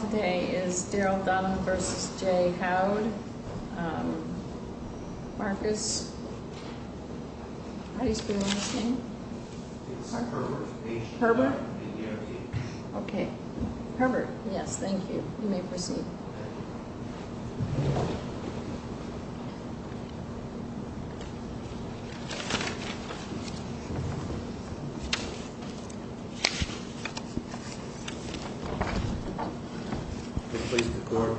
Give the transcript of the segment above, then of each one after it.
Today is Daryl Dunham v. J. Howd. Marcus, how do you spell his name? It's Herbert, H-E-R-B-E-R-T. Okay, Herbert, yes, thank you. You may proceed. Mr. Policeman, the court.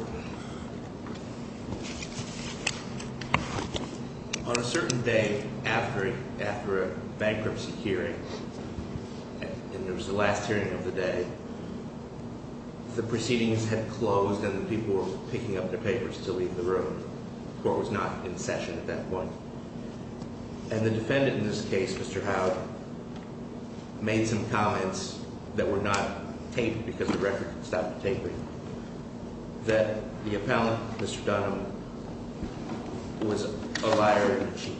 On a certain day after a bankruptcy hearing, and it was the last hearing of the day, the proceedings had closed and the people were picking up their papers to leave the room. The court was not in session at that point. And the defendant in this case, Mr. Howd, made some comments that were not taped because the record stopped tapering. That the appellant, Mr. Dunham, was a liar and a cheat.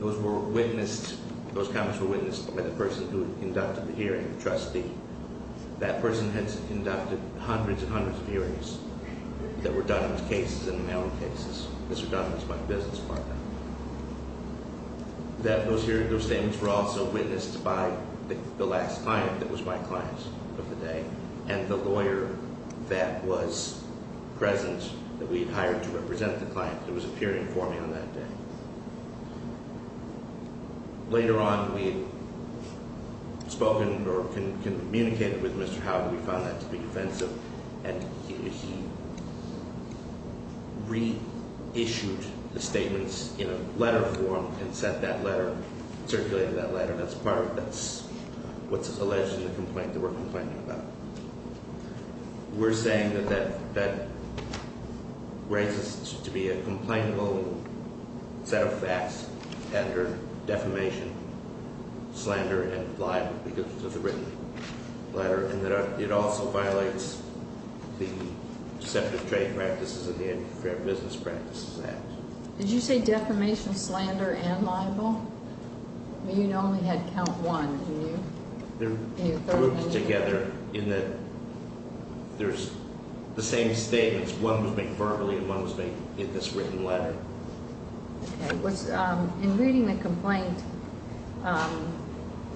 Those comments were witnessed by the person who conducted the hearing, the trustee. That person had conducted hundreds and hundreds of hearings that were Dunham's cases and Howd's cases. Mr. Dunham was my business partner. Those statements were also witnessed by the last client that was my client of the day and the lawyer that was present that we had hired to represent the client that was appearing for me on that day. Later on, we had spoken or communicated with Mr. Howd. We found that to be defensive, and he reissued the statements in a letter form and sent that letter, circulated that letter. That's part of what's alleged in the complaint that we're complaining about. We're saying that that raises to be a complainable set of facts under defamation, slander, and libel because of the written letter. And that it also violates the Deceptive Trade Practices and the Antifa Business Practices Act. Did you say defamation, slander, and libel? You only had count one, didn't you? They're grouped together in that there's the same statements. One was made verbally, and one was made in this written letter. Okay. In reading the complaint,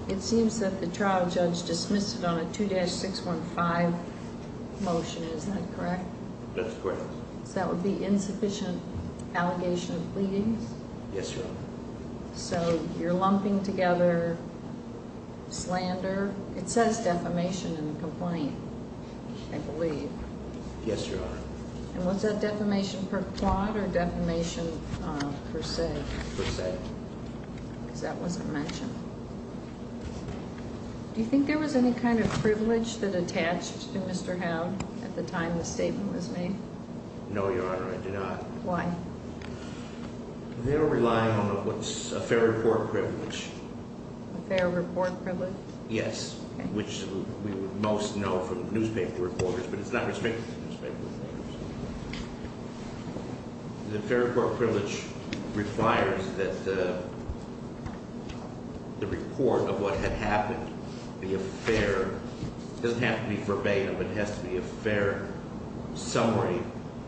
it seems that the trial judge dismissed it on a 2-615 motion. Is that correct? That's correct. So that would be insufficient allegation of bleeding? Yes, Your Honor. So you're lumping together slander. It says defamation in the complaint, I believe. Yes, Your Honor. And was that defamation per quod or defamation per se? Per se. Because that wasn't mentioned. Do you think there was any kind of privilege that attached to Mr. Howd at the time the statement was made? No, Your Honor, I do not. Why? They were relying on what's a fair report privilege. A fair report privilege? Yes, which we would most know from newspaper reporters, but it's not restricted to newspaper reporters. The fair report privilege requires that the report of what had happened be a fair It doesn't have to be verbatim. It has to be a fair summary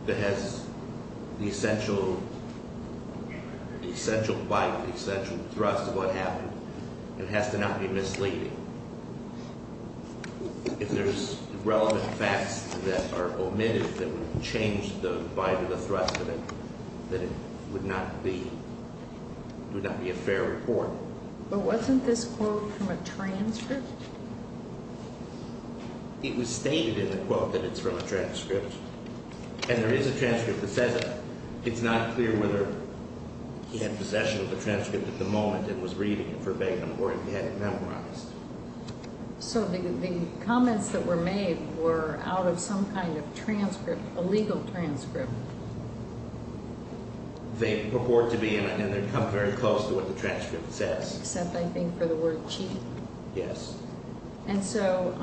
that has the essential bite, the essential thrust of what happened. It has to not be misleading. If there's relevant facts that are omitted that would change the bite or the thrust of it, then it would not be a fair report. But wasn't this quote from a transcript? It was stated in the quote that it's from a transcript, and there is a transcript that says it. It's not clear whether he had possession of the transcript at the moment and was reading it verbatim or if he had it memorized. So the comments that were made were out of some kind of transcript, a legal transcript. They purport to be, and they come very close to what the transcript says. Except, I think, for the word cheating. Yes. And so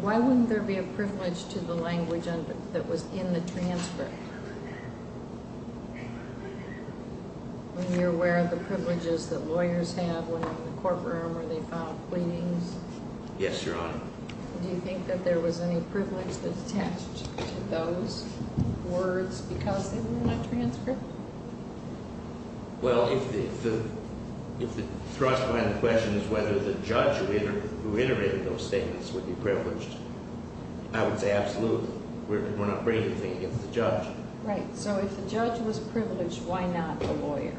why wouldn't there be a privilege to the language that was in the transcript? When you're aware of the privileges that lawyers have when they're in the courtroom or they file pleadings. Yes, Your Honor. Do you think that there was any privilege that's attached to those words because they were in a transcript? Well, if the thrust behind the question is whether the judge who iterated those statements would be privileged, I would say absolutely. We're not bringing anything against the judge. Right. So if the judge was privileged, why not the lawyer?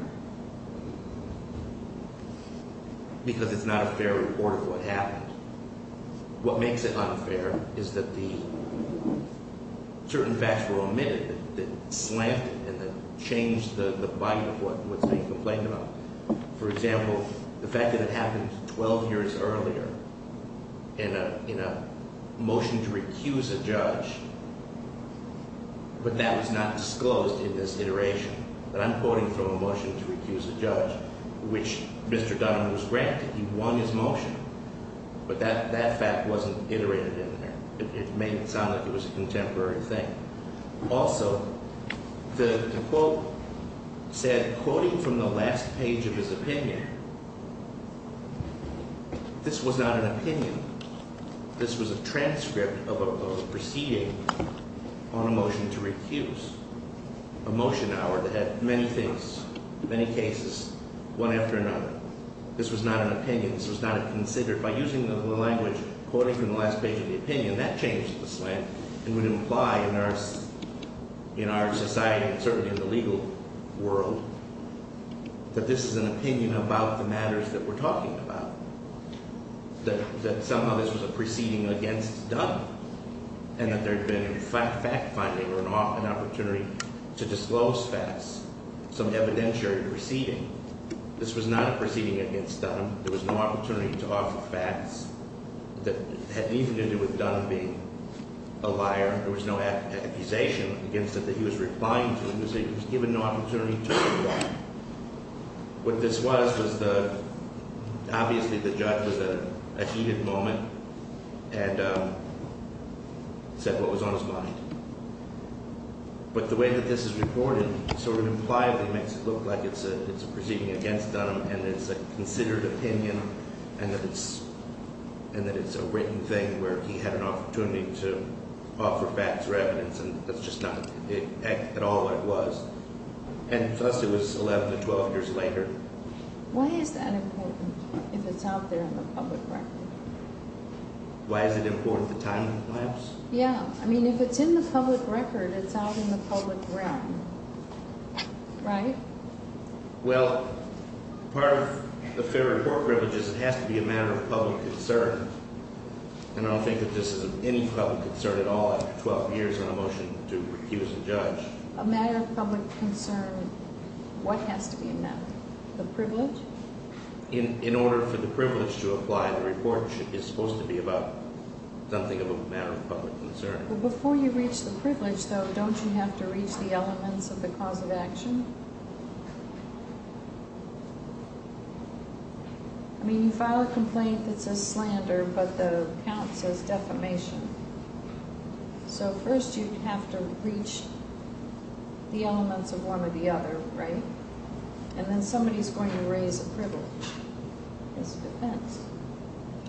Because it's not a fair report of what happened. What makes it unfair is that the certain facts were omitted that slammed it and that changed the bite of what's being complained about. For example, the fact that it happened 12 years earlier in a motion to recuse a judge, but that was not disclosed in this iteration. That I'm quoting from a motion to recuse a judge, which Mr. Dunham was granted. He won his motion. But that fact wasn't iterated in there. It made it sound like it was a contemporary thing. Also, the quote said, quoting from the last page of his opinion, this was not an opinion. This was a transcript of a proceeding on a motion to recuse. A motion, however, that had many things, many cases, one after another. This was not an opinion. This was not considered. By using the language, quoting from the last page of the opinion, that changed the slam and would imply in our society and certainly in the legal world that this is an opinion about the matters that we're talking about. That somehow this was a proceeding against Dunham and that there had been fact-finding or an opportunity to disclose facts, some evidentiary proceeding. This was not a proceeding against Dunham. There was no opportunity to offer facts that had anything to do with Dunham being a liar. There was no accusation against him that he was replying to. He was given no opportunity to reply. What this was was the – obviously, the judge was at a heated moment and said what was on his mind. But the way that this is reported sort of impliably makes it look like it's a proceeding against Dunham and it's a considered opinion and that it's a written thing where he had an opportunity to offer facts or evidence. And that's just not at all what it was. And thus it was 11 to 12 years later. Why is that important if it's out there in the public record? Why is it important? The time lapse? Yeah. I mean if it's in the public record, it's out in the public realm, right? Well, part of the fair or poor privilege is it has to be a matter of public concern. And I don't think that this is of any public concern at all after 12 years on a motion to recuse a judge. A matter of public concern, what has to be a matter? The privilege? In order for the privilege to apply, the report is supposed to be about something of a matter of public concern. But before you reach the privilege, though, don't you have to reach the elements of the cause of action? I mean you file a complaint that says slander, but the count says defamation. So first you have to reach the elements of one or the other, right? And then somebody's going to raise a privilege as a defense.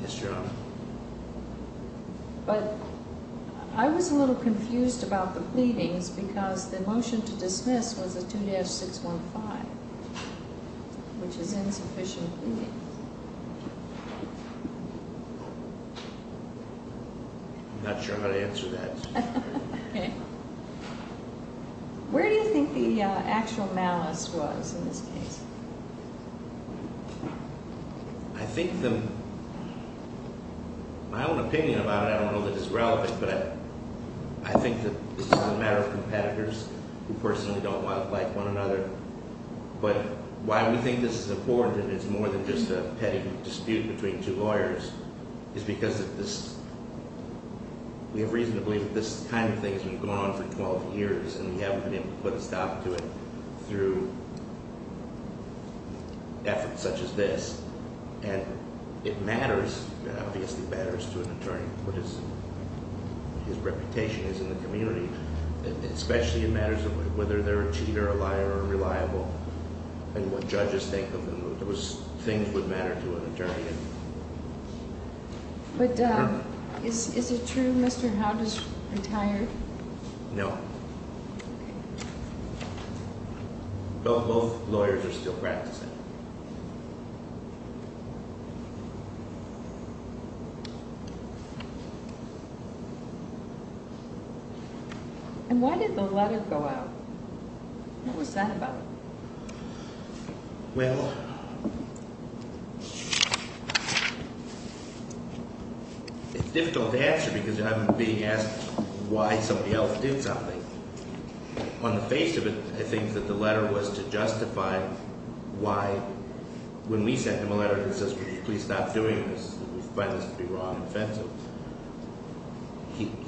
Yes, Your Honor. But I was a little confused about the pleadings because the motion to dismiss was a 2-615, which is insufficient pleadings. I'm not sure how to answer that. Okay. Where do you think the actual malice was in this case? I think the—my own opinion about it, I don't know that it's relevant, but I think that this is a matter of competitors who personally don't like one another. But why we think this is important, and it's more than just a petty dispute between two lawyers, is because we have reason to believe that this kind of thing has been going on for 12 years, and we haven't been able to put a stop to it through efforts such as this. And it matters, it obviously matters to an attorney, what his reputation is in the community. Especially in matters of whether they're a cheater, a liar, or reliable, and what judges think of them. Those things would matter to an attorney. But is it true Mr. Howd is retired? No. Both lawyers are still practicing. And why did the letter go out? What was that about? Well, it's difficult to answer because I'm being asked why somebody else did something. On the face of it, I think that the letter was to justify why, when we sent him a letter that says, please stop doing this, we find this to be wrong and offensive.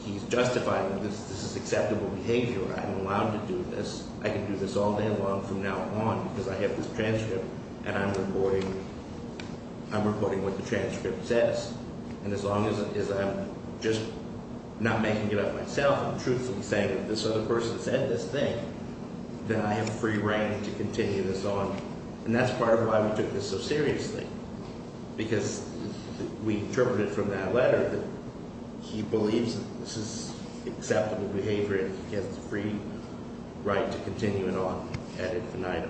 He's justifying, this is acceptable behavior, I'm allowed to do this, I can do this all day long from now on, because I have this transcript, and I'm reporting what the transcript says. And as long as I'm just not making it up myself and truthfully saying that this other person said this thing, then I have free reign to continue this on. And that's part of why we took this so seriously. Because we interpreted from that letter that he believes that this is acceptable behavior, and he has the free right to continue it on ad infinitum.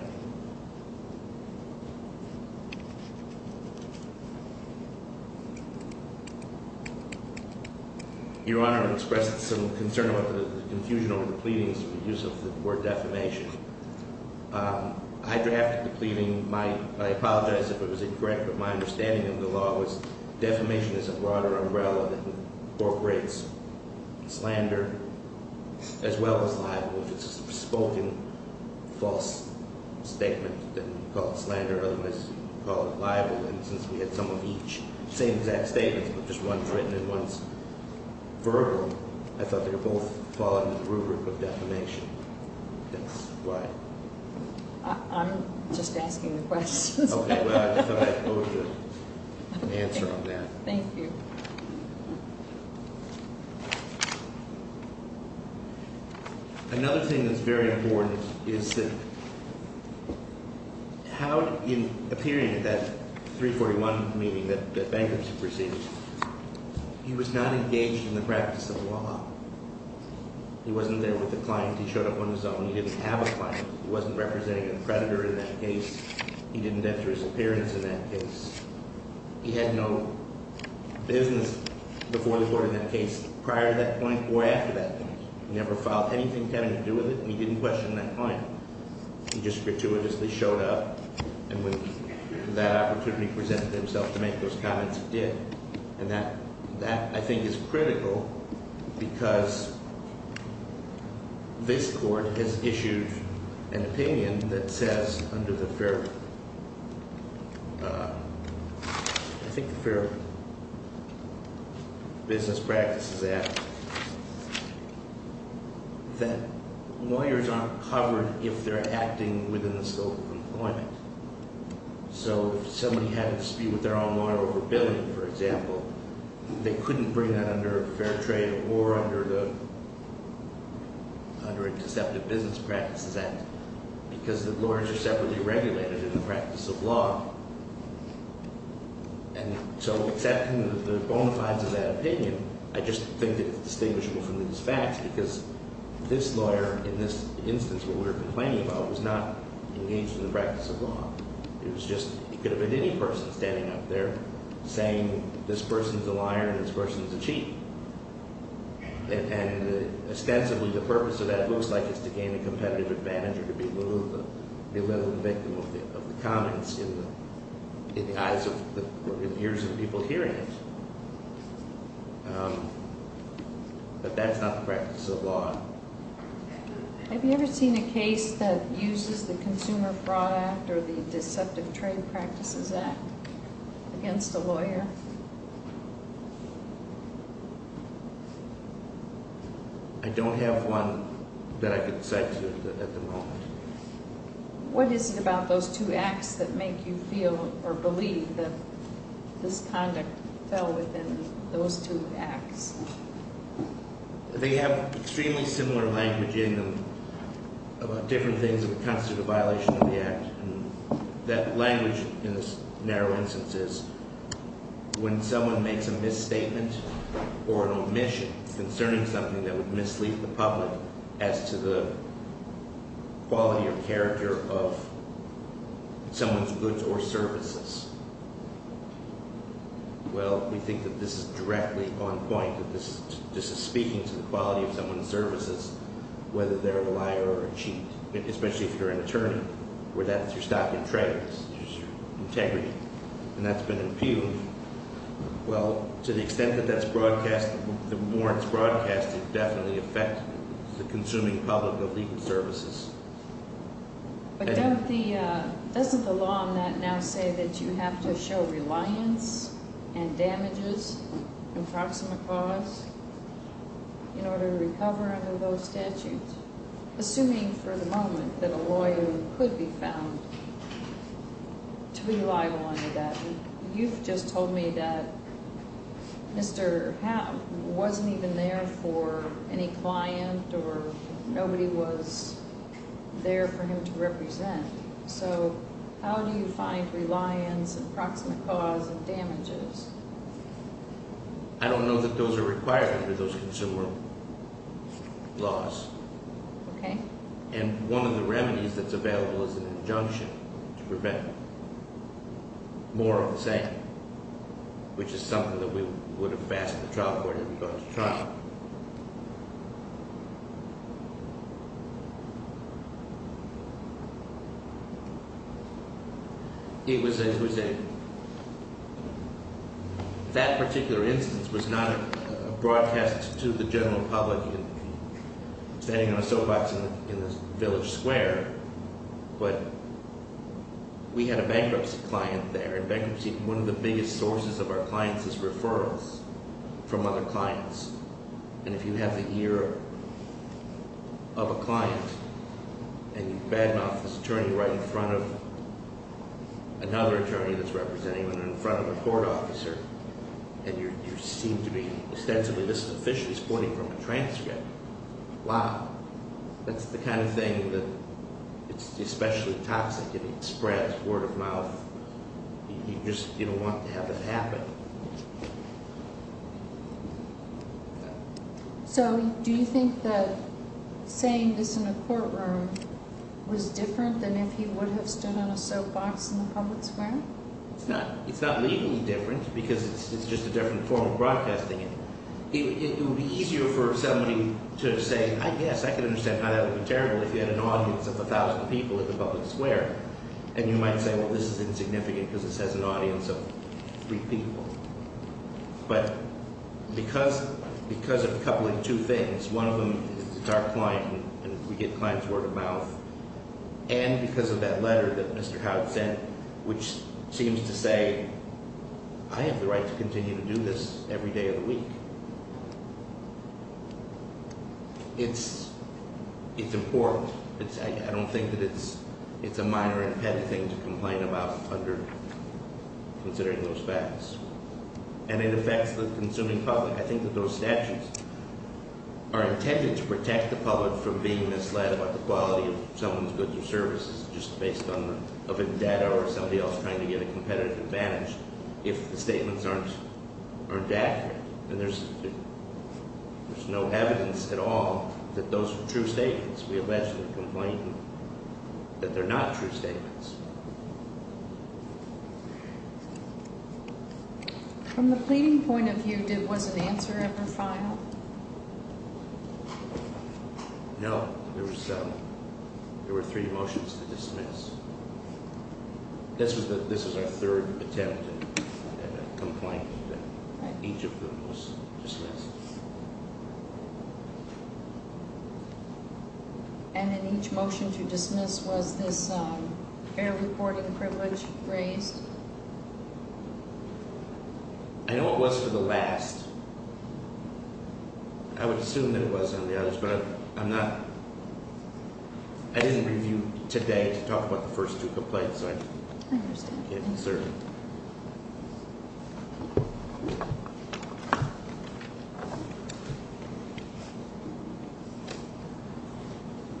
Your Honor expressed some concern about the confusion over the pleadings for the use of the word defamation. I drafted the pleading, I apologize if it was incorrect, but my understanding of the law was defamation is a broader umbrella that incorporates slander as well as libel. If it's a spoken false statement, then we call it slander, otherwise we call it libel. And since we had some of each, same exact statements, but just one's written and one's verbal, I thought they were both falling into the rubric of defamation. Why? I'm just asking the questions. Okay, well, I thought I owed you an answer on that. Thank you. Another thing that's very important is how, in appearing at that 341 meeting that bankers had received, he was not engaged in the practice of law. He wasn't there with the client. He showed up on his own. He didn't have a client. He wasn't representing a predator in that case. He didn't enter his appearance in that case. He had no business before the court in that case prior to that point or after that point. He never filed anything having to do with it, and he didn't question that client. He just gratuitously showed up, and when that opportunity presented itself to make those comments, he did. And that, I think, is critical because this court has issued an opinion that says under the Fair Business Practices Act that lawyers aren't covered if they're acting within the scope of employment. So if somebody had a dispute with their own lawyer over billing, for example, they couldn't bring that under Fair Trade or under a Deceptive Business Practices Act because the lawyers are separately regulated in the practice of law. And so accepting the bona fides of that opinion, I just think it's distinguishable from these facts because this lawyer in this instance, what we were complaining about, was not engaged in the practice of law. It was just, it could have been any person standing up there saying this person's a liar and this person's a cheat. And ostensibly the purpose of that looks like it's to gain a competitive advantage or to be a little of the victim of the comments in the eyes of, or in the ears of people hearing it. But that's not the practice of law. Have you ever seen a case that uses the Consumer Fraud Act or the Deceptive Trade Practices Act against a lawyer? I don't have one that I could cite to you at the moment. What is it about those two acts that make you feel or believe that this conduct fell within those two acts? They have extremely similar language in them about different things that would constitute a violation of the act. And that language in this narrow instance is when someone makes a misstatement or an omission concerning something that would mislead the public as to the quality or character of someone's goods or services. Well, we think that this is directly on point, that this is speaking to the quality of someone's services, whether they're a liar or a cheat, especially if you're an attorney, where that's your stock and trade, that's your integrity, and that's been impugned. Well, to the extent that that's broadcast, the more it's broadcast, it definitely affects the consuming public of legal services. But doesn't the law on that now say that you have to show reliance and damages, approximate cause, in order to recover under those statutes? Assuming for the moment that a lawyer could be found to be liable under that, you've just told me that Mr. Happ wasn't even there for any client or nobody was there for him to represent. So how do you find reliance and approximate cause and damages? I don't know that those are required under those consumer laws. Okay. And one of the remedies that's available is an injunction to prevent more of the same, which is something that we would have fastened the trial court if we'd gone to trial. It was a, that particular instance was not a broadcast to the general public standing on a soapbox in a village square, but we had a bankruptcy client there, and bankruptcy, one of the biggest sources of our clients is referrals from other clients. And if you have the ear of a client, and you bad mouth this attorney right in front of another attorney that's representing him, and in front of a court officer, and you seem to be ostensibly, this is a fish that's pointing from a transcript. Wow. That's the kind of thing that, it's especially toxic if it spreads word of mouth. You just, you don't want to have it happen. So do you think that saying this in a courtroom was different than if he would have stood on a soapbox in the public square? It's not, it's not legally different, because it's just a different form of broadcasting. It would be easier for somebody to say, I guess, I can understand how that would be terrible if you had an audience of a thousand people in the public square. And you might say, well, this is insignificant because this has an audience of three people. But because of a couple of two things, one of them is it's our client, and we get client's word of mouth. And because of that letter that Mr. Howard sent, which seems to say, I have the right to continue to do this every day of the week. It's important. I don't think that it's a minor and petty thing to complain about under considering those facts. And it affects the consuming public. I think that those statutes are intended to protect the public from being misled about the quality of someone's goods or services, just based on a bit of data or somebody else trying to get a competitive advantage, if the statements aren't accurate. And there's no evidence at all that those are true statements. We allegedly complain that they're not true statements. From the pleading point of view, was an answer ever final? No, there were three motions to dismiss. This is our third attempt at a complaint. Each of them was dismissed. And in each motion to dismiss, was this air reporting privilege raised? I know it was for the last. I would assume that it was on the others, but I'm not. I didn't review today to talk about the first two complaints. I understand.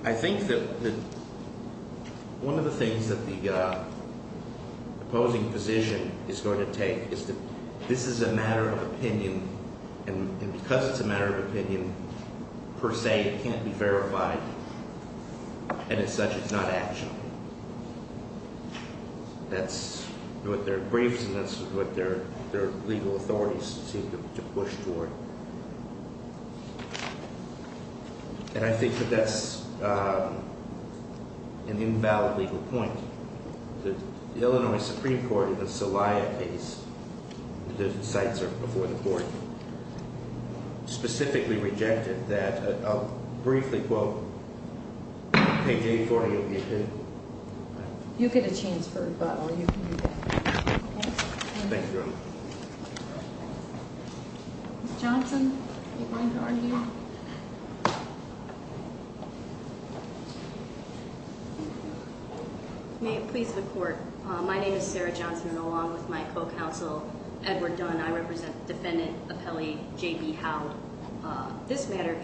I think that one of the things that the opposing position is going to take is that this is a matter of opinion. And because it's a matter of opinion, per se, it can't be verified. And as such, it's not actionable. That's what their briefs and that's what their legal authorities seem to push toward. And I think that that's an invalid legal point. The Illinois Supreme Court in the Celaya case, the sites are before the court, specifically rejected that. I'll briefly quote page 840 of the opinion. You get a chance for a bottle, you can do that. Thank you. Ms. Johnson, are you going to argue? May it please the court. My name is Sarah Johnson, and along with my co-counsel, Edward Dunn, I represent defendant appellee J.B. Howell. This matter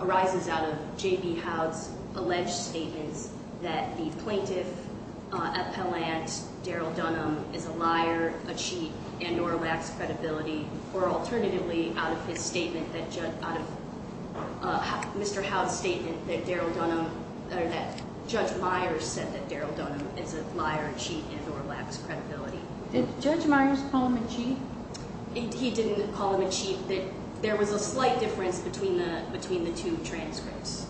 arises out of J.B. Howell's alleged statements that the plaintiff appellant, Daryl Dunham, is a liar, a cheat, and or lacks credibility. Or alternatively, out of Mr. Howell's statement that Judge Myers said that Daryl Dunham is a liar, a cheat, and or lacks credibility. Did Judge Myers call him a cheat? He didn't call him a cheat. There was a slight difference between the two transcripts.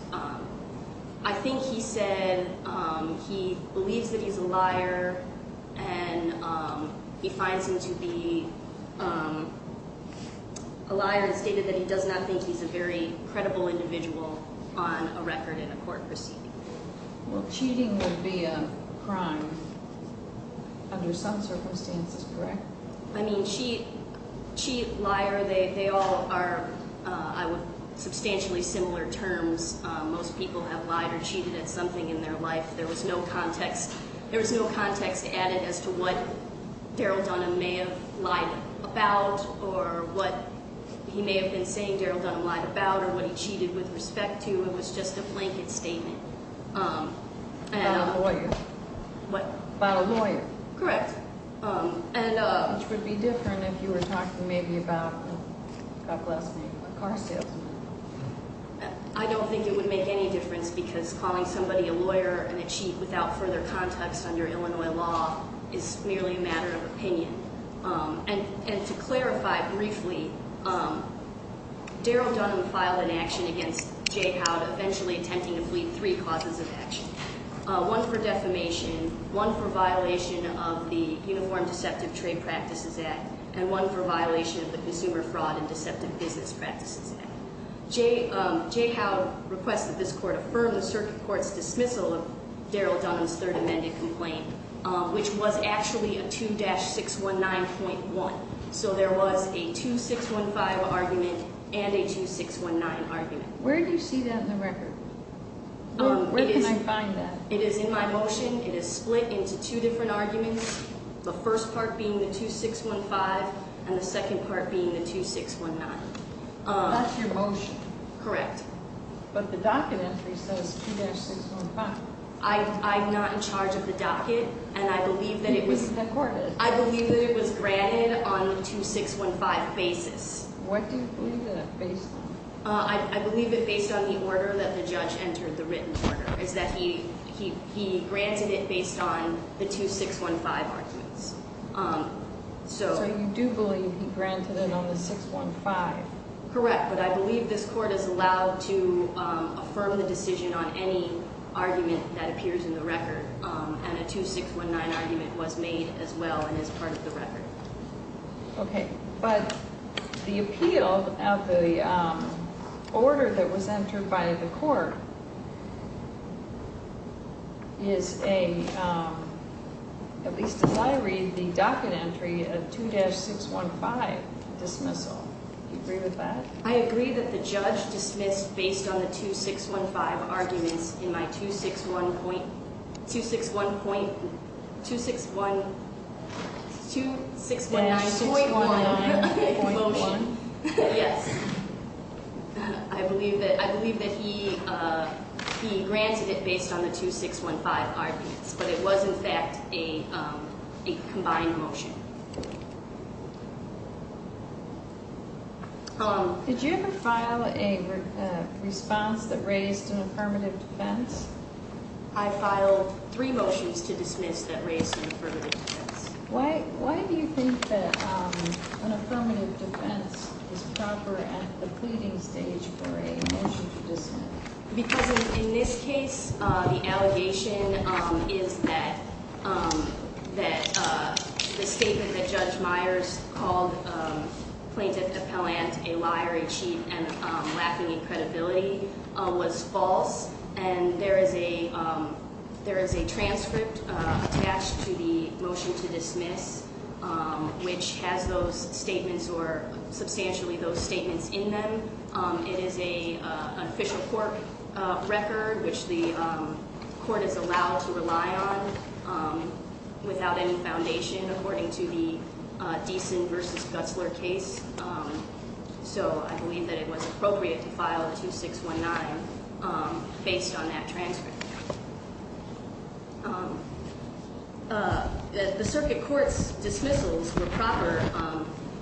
I think he said he believes that he's a liar, and he finds him to be a liar and stated that he does not think he's a very credible individual on a record in a court proceeding. Well, cheating would be a crime under some circumstances, correct? I mean, cheat, liar, they all are substantially similar terms. Most people have lied or cheated at something in their life. There was no context added as to what Daryl Dunham may have lied about or what he may have been saying Daryl Dunham lied about or what he cheated with respect to. It was just a blanket statement. About a lawyer? What? About a lawyer. Correct. Which would be different if you were talking maybe about a car salesman. I don't think it would make any difference because calling somebody a lawyer and a cheat without further context under Illinois law is merely a matter of opinion. And to clarify briefly, Daryl Dunham filed an action against Jay Howell eventually attempting to plead three causes of action. One for defamation, one for violation of the Uniform Deceptive Trade Practices Act, and one for violation of the Consumer Fraud and Deceptive Business Practices Act. Jay Howell requested this court affirm the circuit court's dismissal of Daryl Dunham's third amended complaint, which was actually a 2-619.1. So there was a 2-615 argument and a 2-619 argument. Where can I find that? It is in my motion. It is split into two different arguments, the first part being the 2-615 and the second part being the 2-619. That's your motion? Correct. But the docket entry says 2-615. I'm not in charge of the docket and I believe that it was granted on a 2-615 basis. What do you believe that it's based on? I believe it's based on the order that the judge entered, the written order, is that he granted it based on the 2-615 arguments. So you do believe he granted it on the 615? Correct, but I believe this court is allowed to affirm the decision on any argument that appears in the record, and a 2-619 argument was made as well and is part of the record. Okay, but the appeal of the order that was entered by the court is a, at least as I read the docket entry, a 2-615 dismissal. Do you agree with that? I agree that the judge dismissed based on the 2-615 arguments in my 2-619.1 motion. Yes, I believe that he granted it based on the 2-615 arguments, but it was in fact a combined motion. Did you ever file a response that raised an affirmative defense? I filed three motions to dismiss that raised an affirmative defense. Why do you think that an affirmative defense is proper at the pleading stage for a motion to dismiss? Because in this case, the allegation is that the statement that Judge Myers called Plaintiff Appellant a liar, a cheat, and lacking in credibility was false. And there is a transcript attached to the motion to dismiss, which has those statements or substantially those statements in them. It is an official court record, which the court is allowed to rely on without any foundation according to the Deason v. Gutzler case. So I believe that it was appropriate to file a 2-619 based on that transcript. The circuit court's dismissals were proper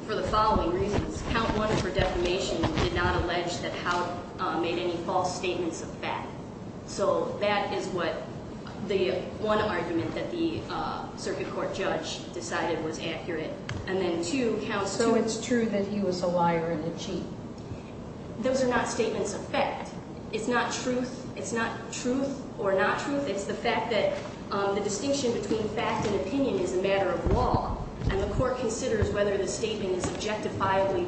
for the following reasons. Count 1 for defamation did not allege that Howe made any false statements of fact. So that is what the one argument that the circuit court judge decided was accurate. And then 2, Count 2. So it's true that he was a liar and a cheat? Those are not statements of fact. It's not truth. It's not truth or not truth. It's the fact that the distinction between fact and opinion is a matter of law. And the court considers whether the statement is objectifiably,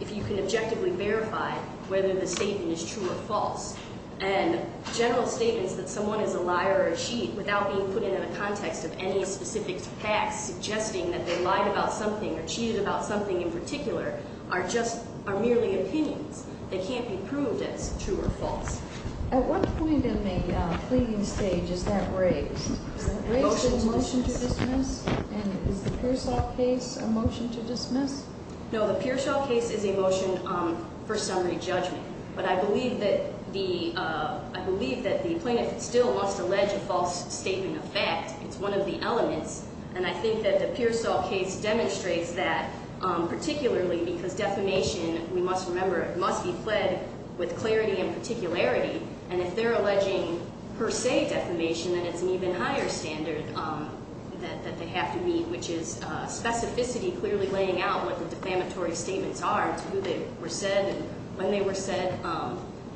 if you can objectively verify whether the statement is true or false. And general statements that someone is a liar or a cheat without being put into the context of any specific facts suggesting that they lied about something or cheated about something in particular are just, are merely opinions. They can't be proved as true or false. At what point in the pleading stage is that raised? Is that raised as a motion to dismiss? And is the Pearsall case a motion to dismiss? No, the Pearsall case is a motion for summary judgment. But I believe that the plaintiff still must allege a false statement of fact. It's one of the elements. And I think that the Pearsall case demonstrates that, particularly because defamation, we must remember, must be fled with clarity and particularity. And if they're alleging per se defamation, then it's an even higher standard that they have to meet, which is specificity, clearly laying out what the defamatory statements are to who they were said and when they were said.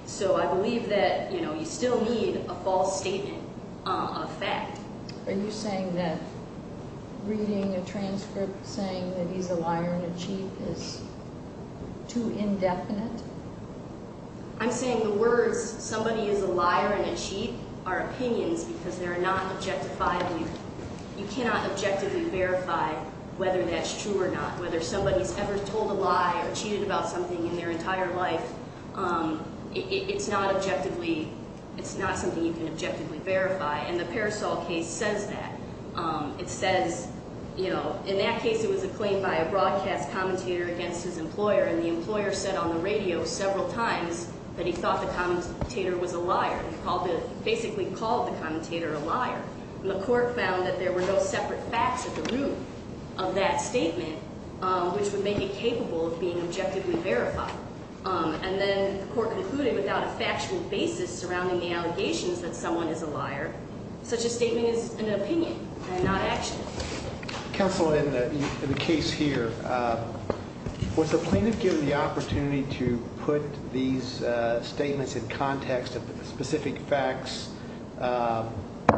So I believe that, you know, you still need a false statement of fact. Are you saying that reading a transcript saying that he's a liar and a cheat is too indefinite? I'm saying the words somebody is a liar and a cheat are opinions because they're not objectified. You cannot objectively verify whether that's true or not. Whether somebody's ever told a lie or cheated about something in their entire life, it's not objectively, it's not something you can objectively verify. And the Pearsall case says that. It says, you know, in that case it was a claim by a broadcast commentator against his employer. And the employer said on the radio several times that he thought the commentator was a liar. He basically called the commentator a liar. And the court found that there were no separate facts at the root of that statement, which would make it capable of being objectively verified. And then the court concluded without a factual basis surrounding the allegations that someone is a liar, such a statement is an opinion and not action. Counsel, in the case here, was the plaintiff given the opportunity to put these statements in context of specific facts?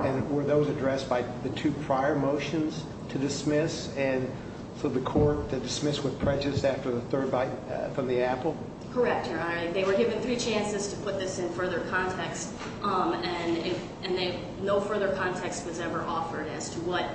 And were those addressed by the two prior motions to dismiss? And for the court to dismiss with prejudice after the third bite from the apple? Correct, Your Honor. They were given three chances to put this in further context. And no further context was ever offered as to what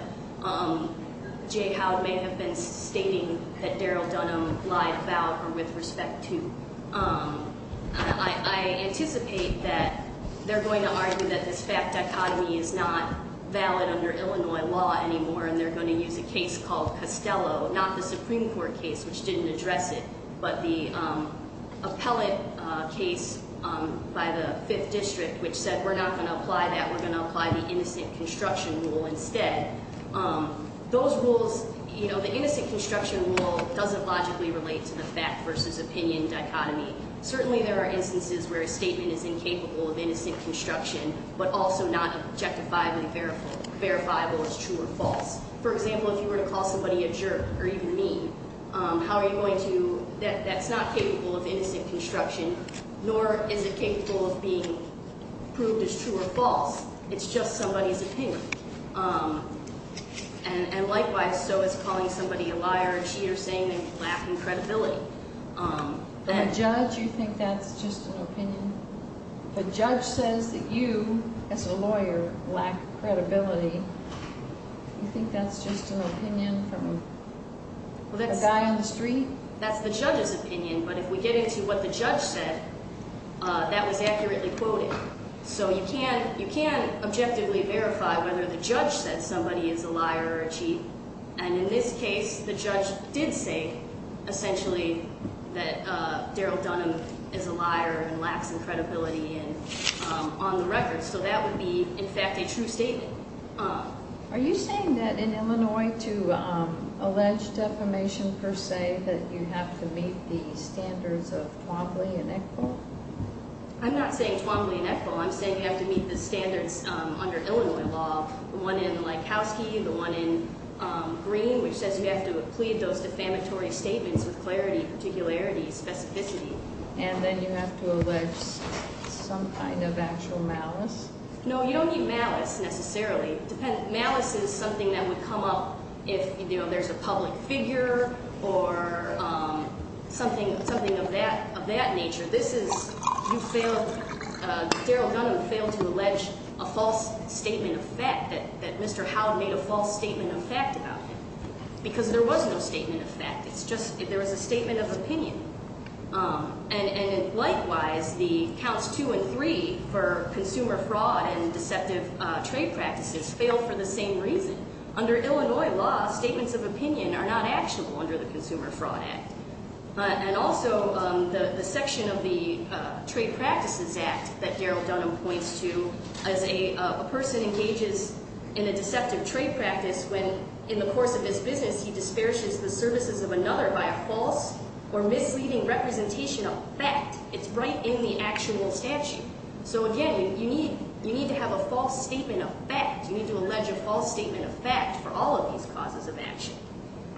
Jay Howe may have been stating that Daryl Dunham lied about or with respect to. I anticipate that they're going to argue that this fact dichotomy is not valid under Illinois law anymore. And they're going to use a case called Costello, not the Supreme Court case, which didn't address it. But the appellate case by the Fifth District, which said we're not going to apply that. We're going to apply the innocent construction rule instead. Those rules, you know, the innocent construction rule doesn't logically relate to the fact versus opinion dichotomy. Certainly there are instances where a statement is incapable of innocent construction, but also not objectifiably verifiable as true or false. For example, if you were to call somebody a jerk or even mean, how are you going to, that's not capable of innocent construction, nor is it capable of being proved as true or false. It's just somebody's opinion. And likewise, so is calling somebody a liar, a cheater, saying they lack in credibility. The judge, you think that's just an opinion? The judge says that you, as a lawyer, lack credibility. You think that's just an opinion from a guy on the street? That's the judge's opinion, but if we get into what the judge said, that was accurately quoted. So you can't objectively verify whether the judge said somebody is a liar or a cheat. And in this case, the judge did say essentially that Daryl Dunham is a liar and lacks in credibility on the record. So that would be, in fact, a true statement. Are you saying that in Illinois to allege defamation per se, that you have to meet the standards of Twombly and Eckburn? I'm not saying Twombly and Eckburn. I'm saying you have to meet the standards under Illinois law, the one in Likowski, the one in Green, which says you have to plead those defamatory statements with clarity, particularity, specificity. And then you have to allege some kind of actual malice? No, you don't need malice necessarily. Malice is something that would come up if there's a public figure or something of that nature. This is, you failed, Daryl Dunham failed to allege a false statement of fact, that Mr. Howe made a false statement of fact about him. Because there was no statement of fact. It's just there was a statement of opinion. And likewise, the counts two and three for consumer fraud and deceptive trade practices failed for the same reason. Under Illinois law, statements of opinion are not actionable under the Consumer Fraud Act. And also, the section of the Trade Practices Act that Daryl Dunham points to as a person engages in a deceptive trade practice when in the course of his business, he disparages the services of another by a false or misleading representation of fact. It's right in the actual statute. So again, you need to have a false statement of fact. You need to allege a false statement of fact for all of these causes of action.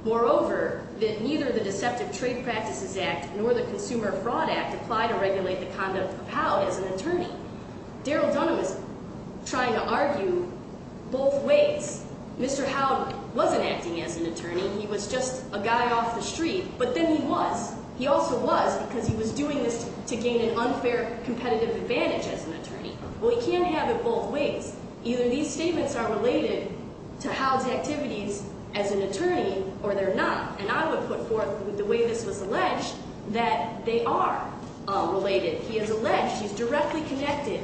Moreover, that neither the Deceptive Trade Practices Act nor the Consumer Fraud Act apply to regulate the conduct of Howe as an attorney. Daryl Dunham is trying to argue both ways. Mr. Howe wasn't acting as an attorney. He was just a guy off the street. But then he was. He also was because he was doing this to gain an unfair competitive advantage as an attorney. Well, he can't have it both ways. Either these statements are related to Howe's activities as an attorney or they're not. And I would put forth the way this was alleged that they are related. He has alleged he's directly connected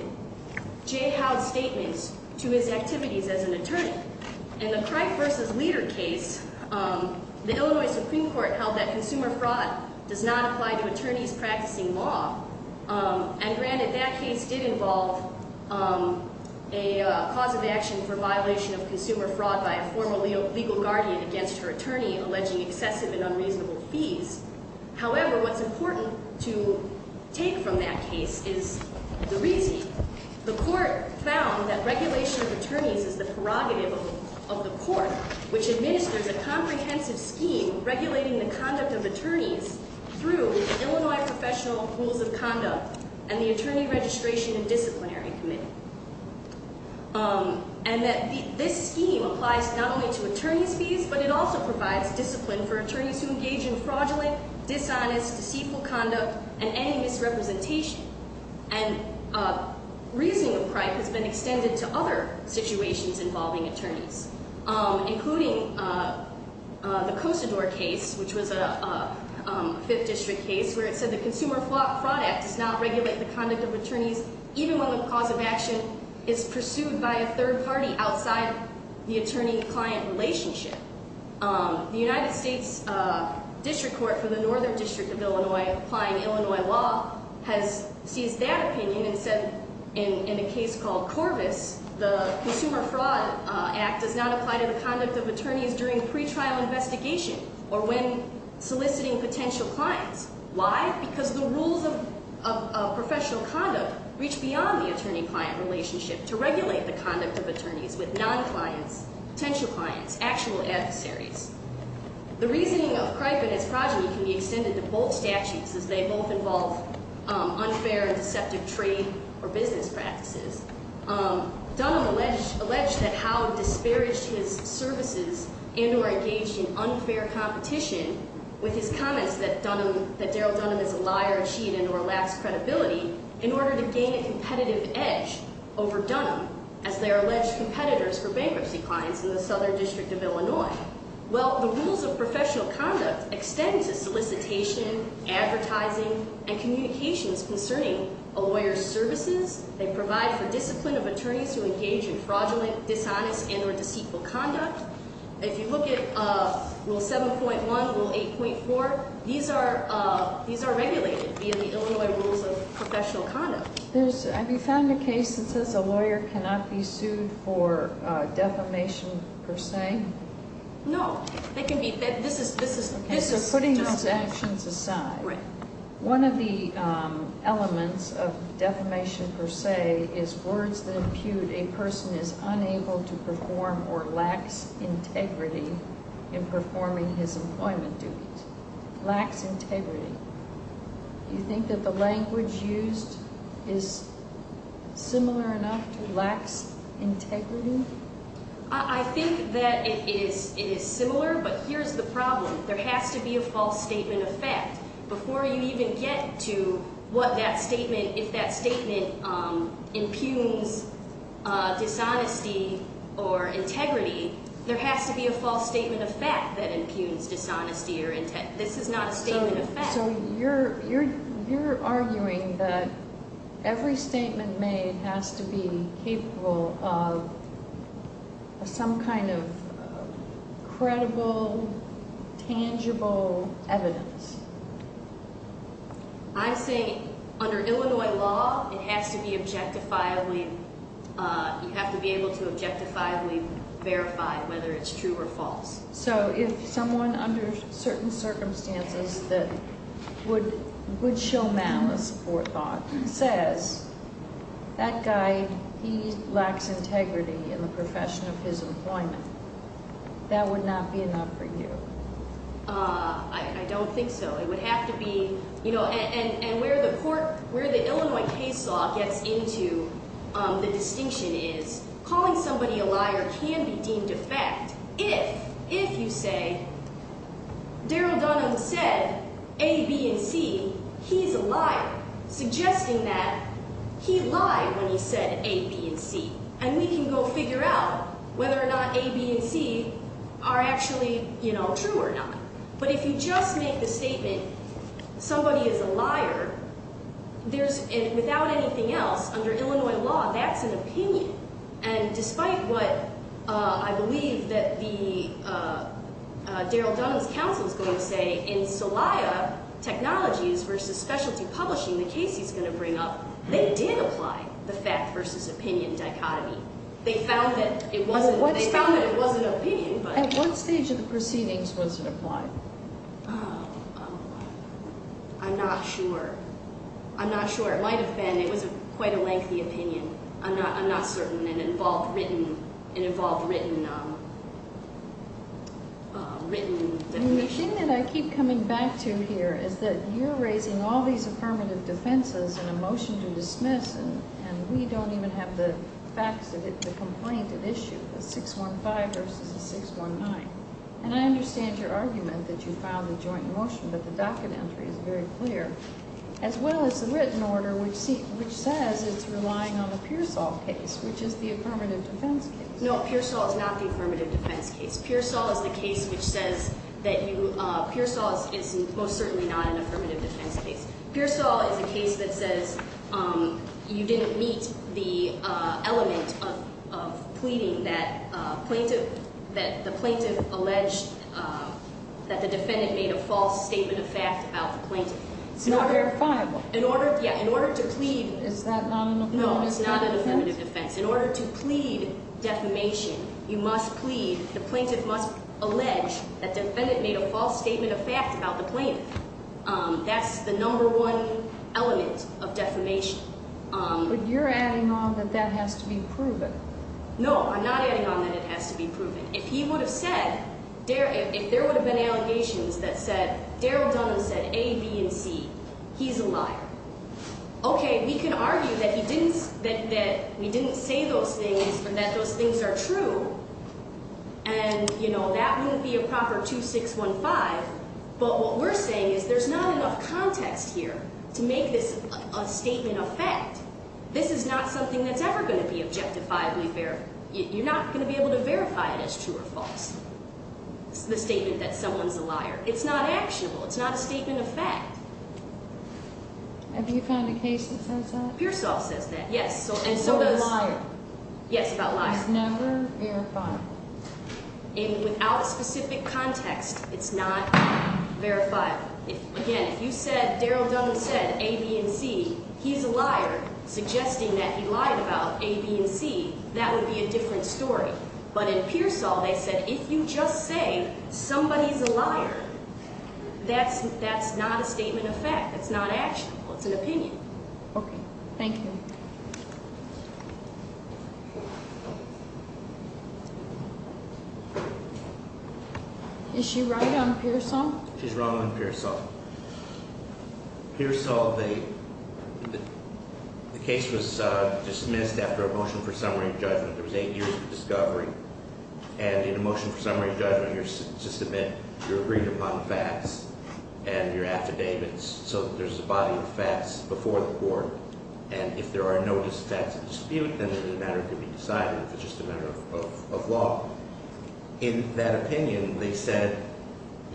Jay Howe's statements to his activities as an attorney. In the Crike v. Leader case, the Illinois Supreme Court held that consumer fraud does not apply to attorneys practicing law. And granted, that case did involve a cause of action for violation of consumer fraud by a former legal guardian against her attorney alleging excessive and unreasonable fees. However, what's important to take from that case is the reasoning. The court found that regulation of attorneys is the prerogative of the court, which administers a comprehensive scheme regulating the conduct of attorneys through Illinois Professional Rules of Conduct and the Attorney Registration and Disciplinary Committee. And that this scheme applies not only to attorneys' fees, but it also provides discipline for attorneys who engage in fraudulent, dishonest, deceitful conduct and any misrepresentation. And reasoning of Crike has been extended to other situations involving attorneys, including the Cosador case, which was a Fifth District case, where it said the Consumer Fraud Act does not regulate the conduct of attorneys, even when the cause of action is pursued by a third party outside the attorney-client relationship. The United States District Court for the Northern District of Illinois, applying Illinois law, has seized that opinion and said in a case called Corvus, the Consumer Fraud Act does not apply to the conduct of attorneys during pretrial investigation or when soliciting potential clients. Why? Because the rules of professional conduct reach beyond the attorney-client relationship to regulate the conduct of attorneys with non-clients, potential clients, actual adversaries. The reasoning of Crike and his progeny can be extended to both statutes as they both involve unfair and deceptive trade or business practices. Dunham alleged that Howe disparaged his services and or engaged in unfair competition with his comments that Dunham, that Darryl Dunham is a liar, a cheat, and or lacks credibility in order to gain a competitive edge over Dunham as their alleged competitors for bankruptcy clients in the Southern District of Illinois. Well, the rules of professional conduct extend to solicitation, advertising, and communications concerning a lawyer's services. They provide for discipline of attorneys who engage in fraudulent, dishonest, and or deceitful conduct. If you look at Rule 7.1, Rule 8.4, these are regulated via the Illinois rules of professional conduct. Have you found a case that says a lawyer cannot be sued for defamation per se? No. So putting those actions aside, one of the elements of defamation per se is words that impute a person is unable to perform or lacks integrity in performing his employment duties. Lacks integrity. Do you think that the language used is similar enough to lacks integrity? I think that it is similar, but here's the problem. There has to be a false statement of fact. Before you even get to what that statement, if that statement impugns dishonesty or integrity, there has to be a false statement of fact that impugns dishonesty or integrity. So you're arguing that every statement made has to be capable of some kind of credible, tangible evidence. I'm saying under Illinois law, it has to be objectifiably, you have to be able to objectifiably verify whether it's true or false. So if someone under certain circumstances that would show malice or thought says, that guy, he lacks integrity in the profession of his employment, that would not be enough for you? I don't think so. It would have to be, you know, and where the court, where the Illinois case law gets into the distinction is, calling somebody a liar can be deemed a fact if, if you say, Darrell Dunham said A, B, and C, he's a liar. Suggesting that he lied when he said A, B, and C. And we can go figure out whether or not A, B, and C are actually, you know, true or not. But if you just make the statement, somebody is a liar, there's, without anything else, under Illinois law, that's an opinion. And despite what I believe that the, Darrell Dunham's counsel is going to say in Celaya Technologies versus Specialty Publishing, the case he's going to bring up, they did apply the fact versus opinion dichotomy. They found that it wasn't, they found that it was an opinion, but. At what stage of the proceedings was it applied? I'm not sure. I'm not sure. It might have been, it was quite a lengthy opinion. I'm not, I'm not certain. It involved written, it involved written, written. The thing that I keep coming back to here is that you're raising all these affirmative defenses in a motion to dismiss, and we don't even have the facts of it, the complaint at issue, the 615 versus the 619. And I understand your argument that you filed a joint motion, but the docket entry is very clear. As well as the written order which says it's relying on the Pearsall case, which is the affirmative defense case. No, Pearsall is not the affirmative defense case. Pearsall is the case which says that you, Pearsall is most certainly not an affirmative defense case. Pearsall is a case that says you didn't meet the element of pleading that plaintiff, that the plaintiff alleged that the defendant made a false statement of fact about the plaintiff. It's not verifiable. In order, yeah, in order to plead. Is that not an affirmative defense? No, it's not an affirmative defense. In order to plead defamation, you must plead, the plaintiff must allege that defendant made a false statement of fact about the plaintiff. That's the number one element of defamation. But you're adding on that that has to be proven. No, I'm not adding on that it has to be proven. If he would have said, if there would have been allegations that said, Darryl Dunham said A, B, and C, he's a liar. Okay, we can argue that he didn't, that we didn't say those things and that those things are true. And, you know, that wouldn't be a proper 2615. But what we're saying is there's not enough context here to make this a statement of fact. This is not something that's ever going to be objectifiably verified. You're not going to be able to verify it as true or false, the statement that someone's a liar. It's not actionable. It's not a statement of fact. Have you found a case that says that? Pearsall says that, yes. And so does. About a liar. Yes, about a liar. It's never verifiable. And without a specific context, it's not verifiable. Again, if you said Darryl Dunham said A, B, and C, he's a liar, suggesting that he lied about A, B, and C, that would be a different story. But in Pearsall, they said if you just say somebody's a liar, that's not a statement of fact. That's not actionable. It's an opinion. Okay. Thank you. Is she right on Pearsall? She's wrong on Pearsall. Pearsall, the case was dismissed after a motion for summary judgment. There was eight years of discovery. And in a motion for summary judgment, you're agreed upon facts and your affidavits so that there's a body of facts before the court. And if there are no disaffected dispute, then it's a matter to be decided. It's just a matter of law. In that opinion, they said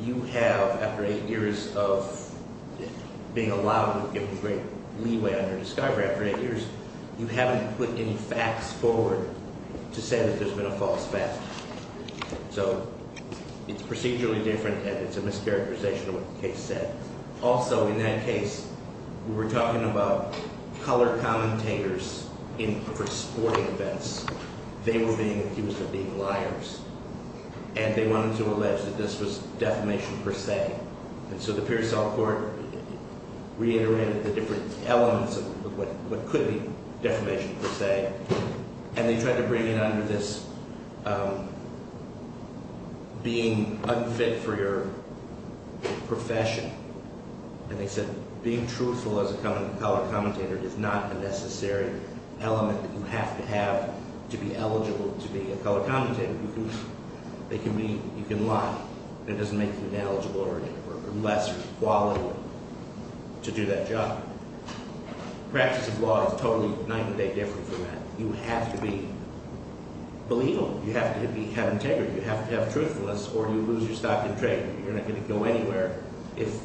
you have, after eight years of being allowed with great leeway under discovery, after eight years, you haven't put any facts forward to say that there's been a false fact. So it's procedurally different and it's a mischaracterization of what the case said. Also, in that case, we were talking about color commentators for sporting events. They were being accused of being liars. And they wanted to allege that this was defamation per se. And so the Pearsall Court reiterated the different elements of what could be defamation per se. And they tried to bring it under this being unfit for your profession. And they said being truthful as a color commentator is not a necessary element that you have to have to be eligible to be a color commentator. You can lie, and it doesn't make you ineligible or less qualified to do that job. The practice of law is totally night and day different from that. You have to be believable. You have to have integrity. You have to have truthfulness or you lose your stock in trade. You're not going to go anywhere if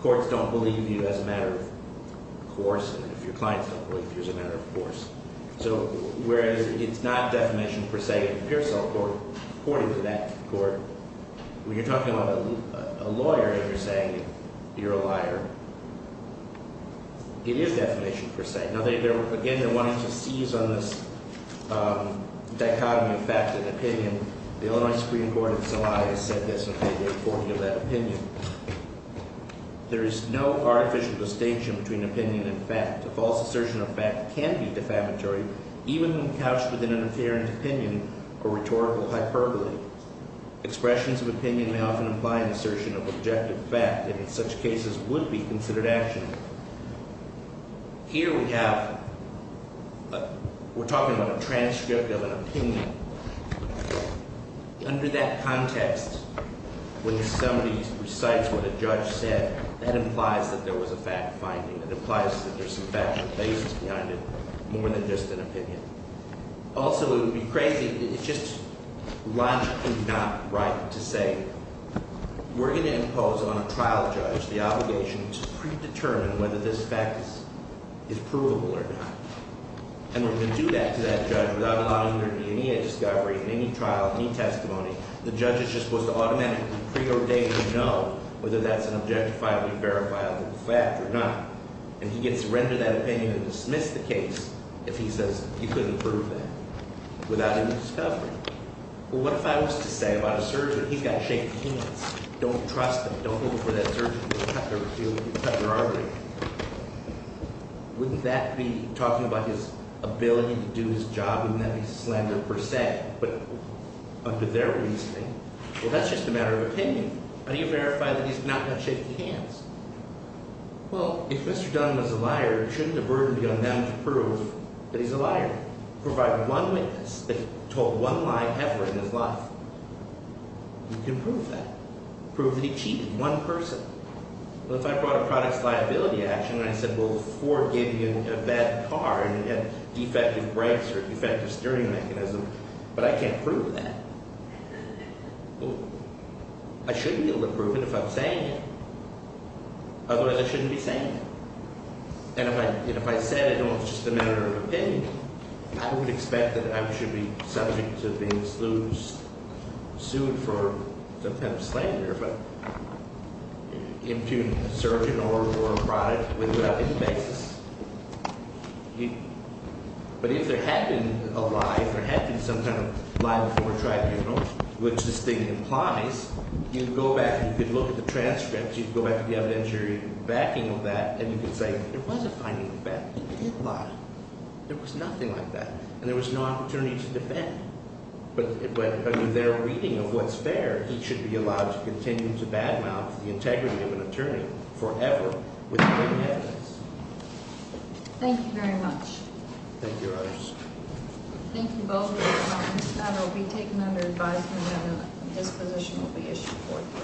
courts don't believe you as a matter of course and if your clients don't believe you as a matter of course. So whereas it's not defamation per se in the Pearsall Court, according to that court, when you're talking about a lawyer and you're saying you're a liar, it is defamation per se. Now, again, they're wanting to seize on this dichotomy of fact and opinion. The Illinois Supreme Court in Celaya said this, and I'll give you a recording of that opinion. There is no artificial distinction between opinion and fact. A false assertion of fact can be defamatory even when couched within an apparent opinion or rhetorical hyperbole. Expressions of opinion may often imply an assertion of objective fact, and in such cases would be considered action. Here we have – we're talking about a transcript of an opinion. Under that context, when somebody recites what a judge said, that implies that there was a fact finding. It implies that there's some factual basis behind it more than just an opinion. Also, it would be crazy – it's just logically not right to say we're going to impose on a trial judge the obligation to predetermine whether this fact is provable or not. And we're going to do that to that judge without allowing there to be any discovery in any trial, any testimony. The judge is just supposed to automatically preordain to know whether that's an objectifiably verifiable fact or not. And he gets to render that opinion and dismiss the case if he says you couldn't prove that without any discovery. Well, what if I was to say about a surgeon, he's got to shake hands. Don't trust him. Don't go before that surgeon and cut their artery. Wouldn't that be talking about his ability to do his job and not be slander per se? But under their reasoning, well, that's just a matter of opinion. How do you verify that he's not got to shake hands? Well, if Mr. Dunn was a liar, shouldn't the burden be on them to prove that he's a liar? Provide one witness that told one lie ever in his life. You can prove that. Prove that he cheated, one person. Well, if I brought a products liability action and I said, well, Ford gave you a bad car and it had defective brakes or defective steering mechanism, but I can't prove that. I shouldn't be able to prove it if I'm saying it. Otherwise, I shouldn't be saying it. And if I said it, well, it's just a matter of opinion. I would expect that I should be subject to being sued for some kind of slander, but impugning a surgeon or a product without any basis. But if there had been a lie, if there had been some kind of lie before tribunal, which this thing implies, you'd go back and you could look at the transcripts. You could go back to the evidentiary backing of that and you could say, there was a finding of that. It did lie. There was nothing like that. And there was no opportunity to defend. But under their reading of what's fair, he should be allowed to continue to badmouth the integrity of an attorney forever without any evidence. Thank you very much. Thank you, others. Thank you both for your comments. That will be taken under advisement and a disposition will be issued forthwith.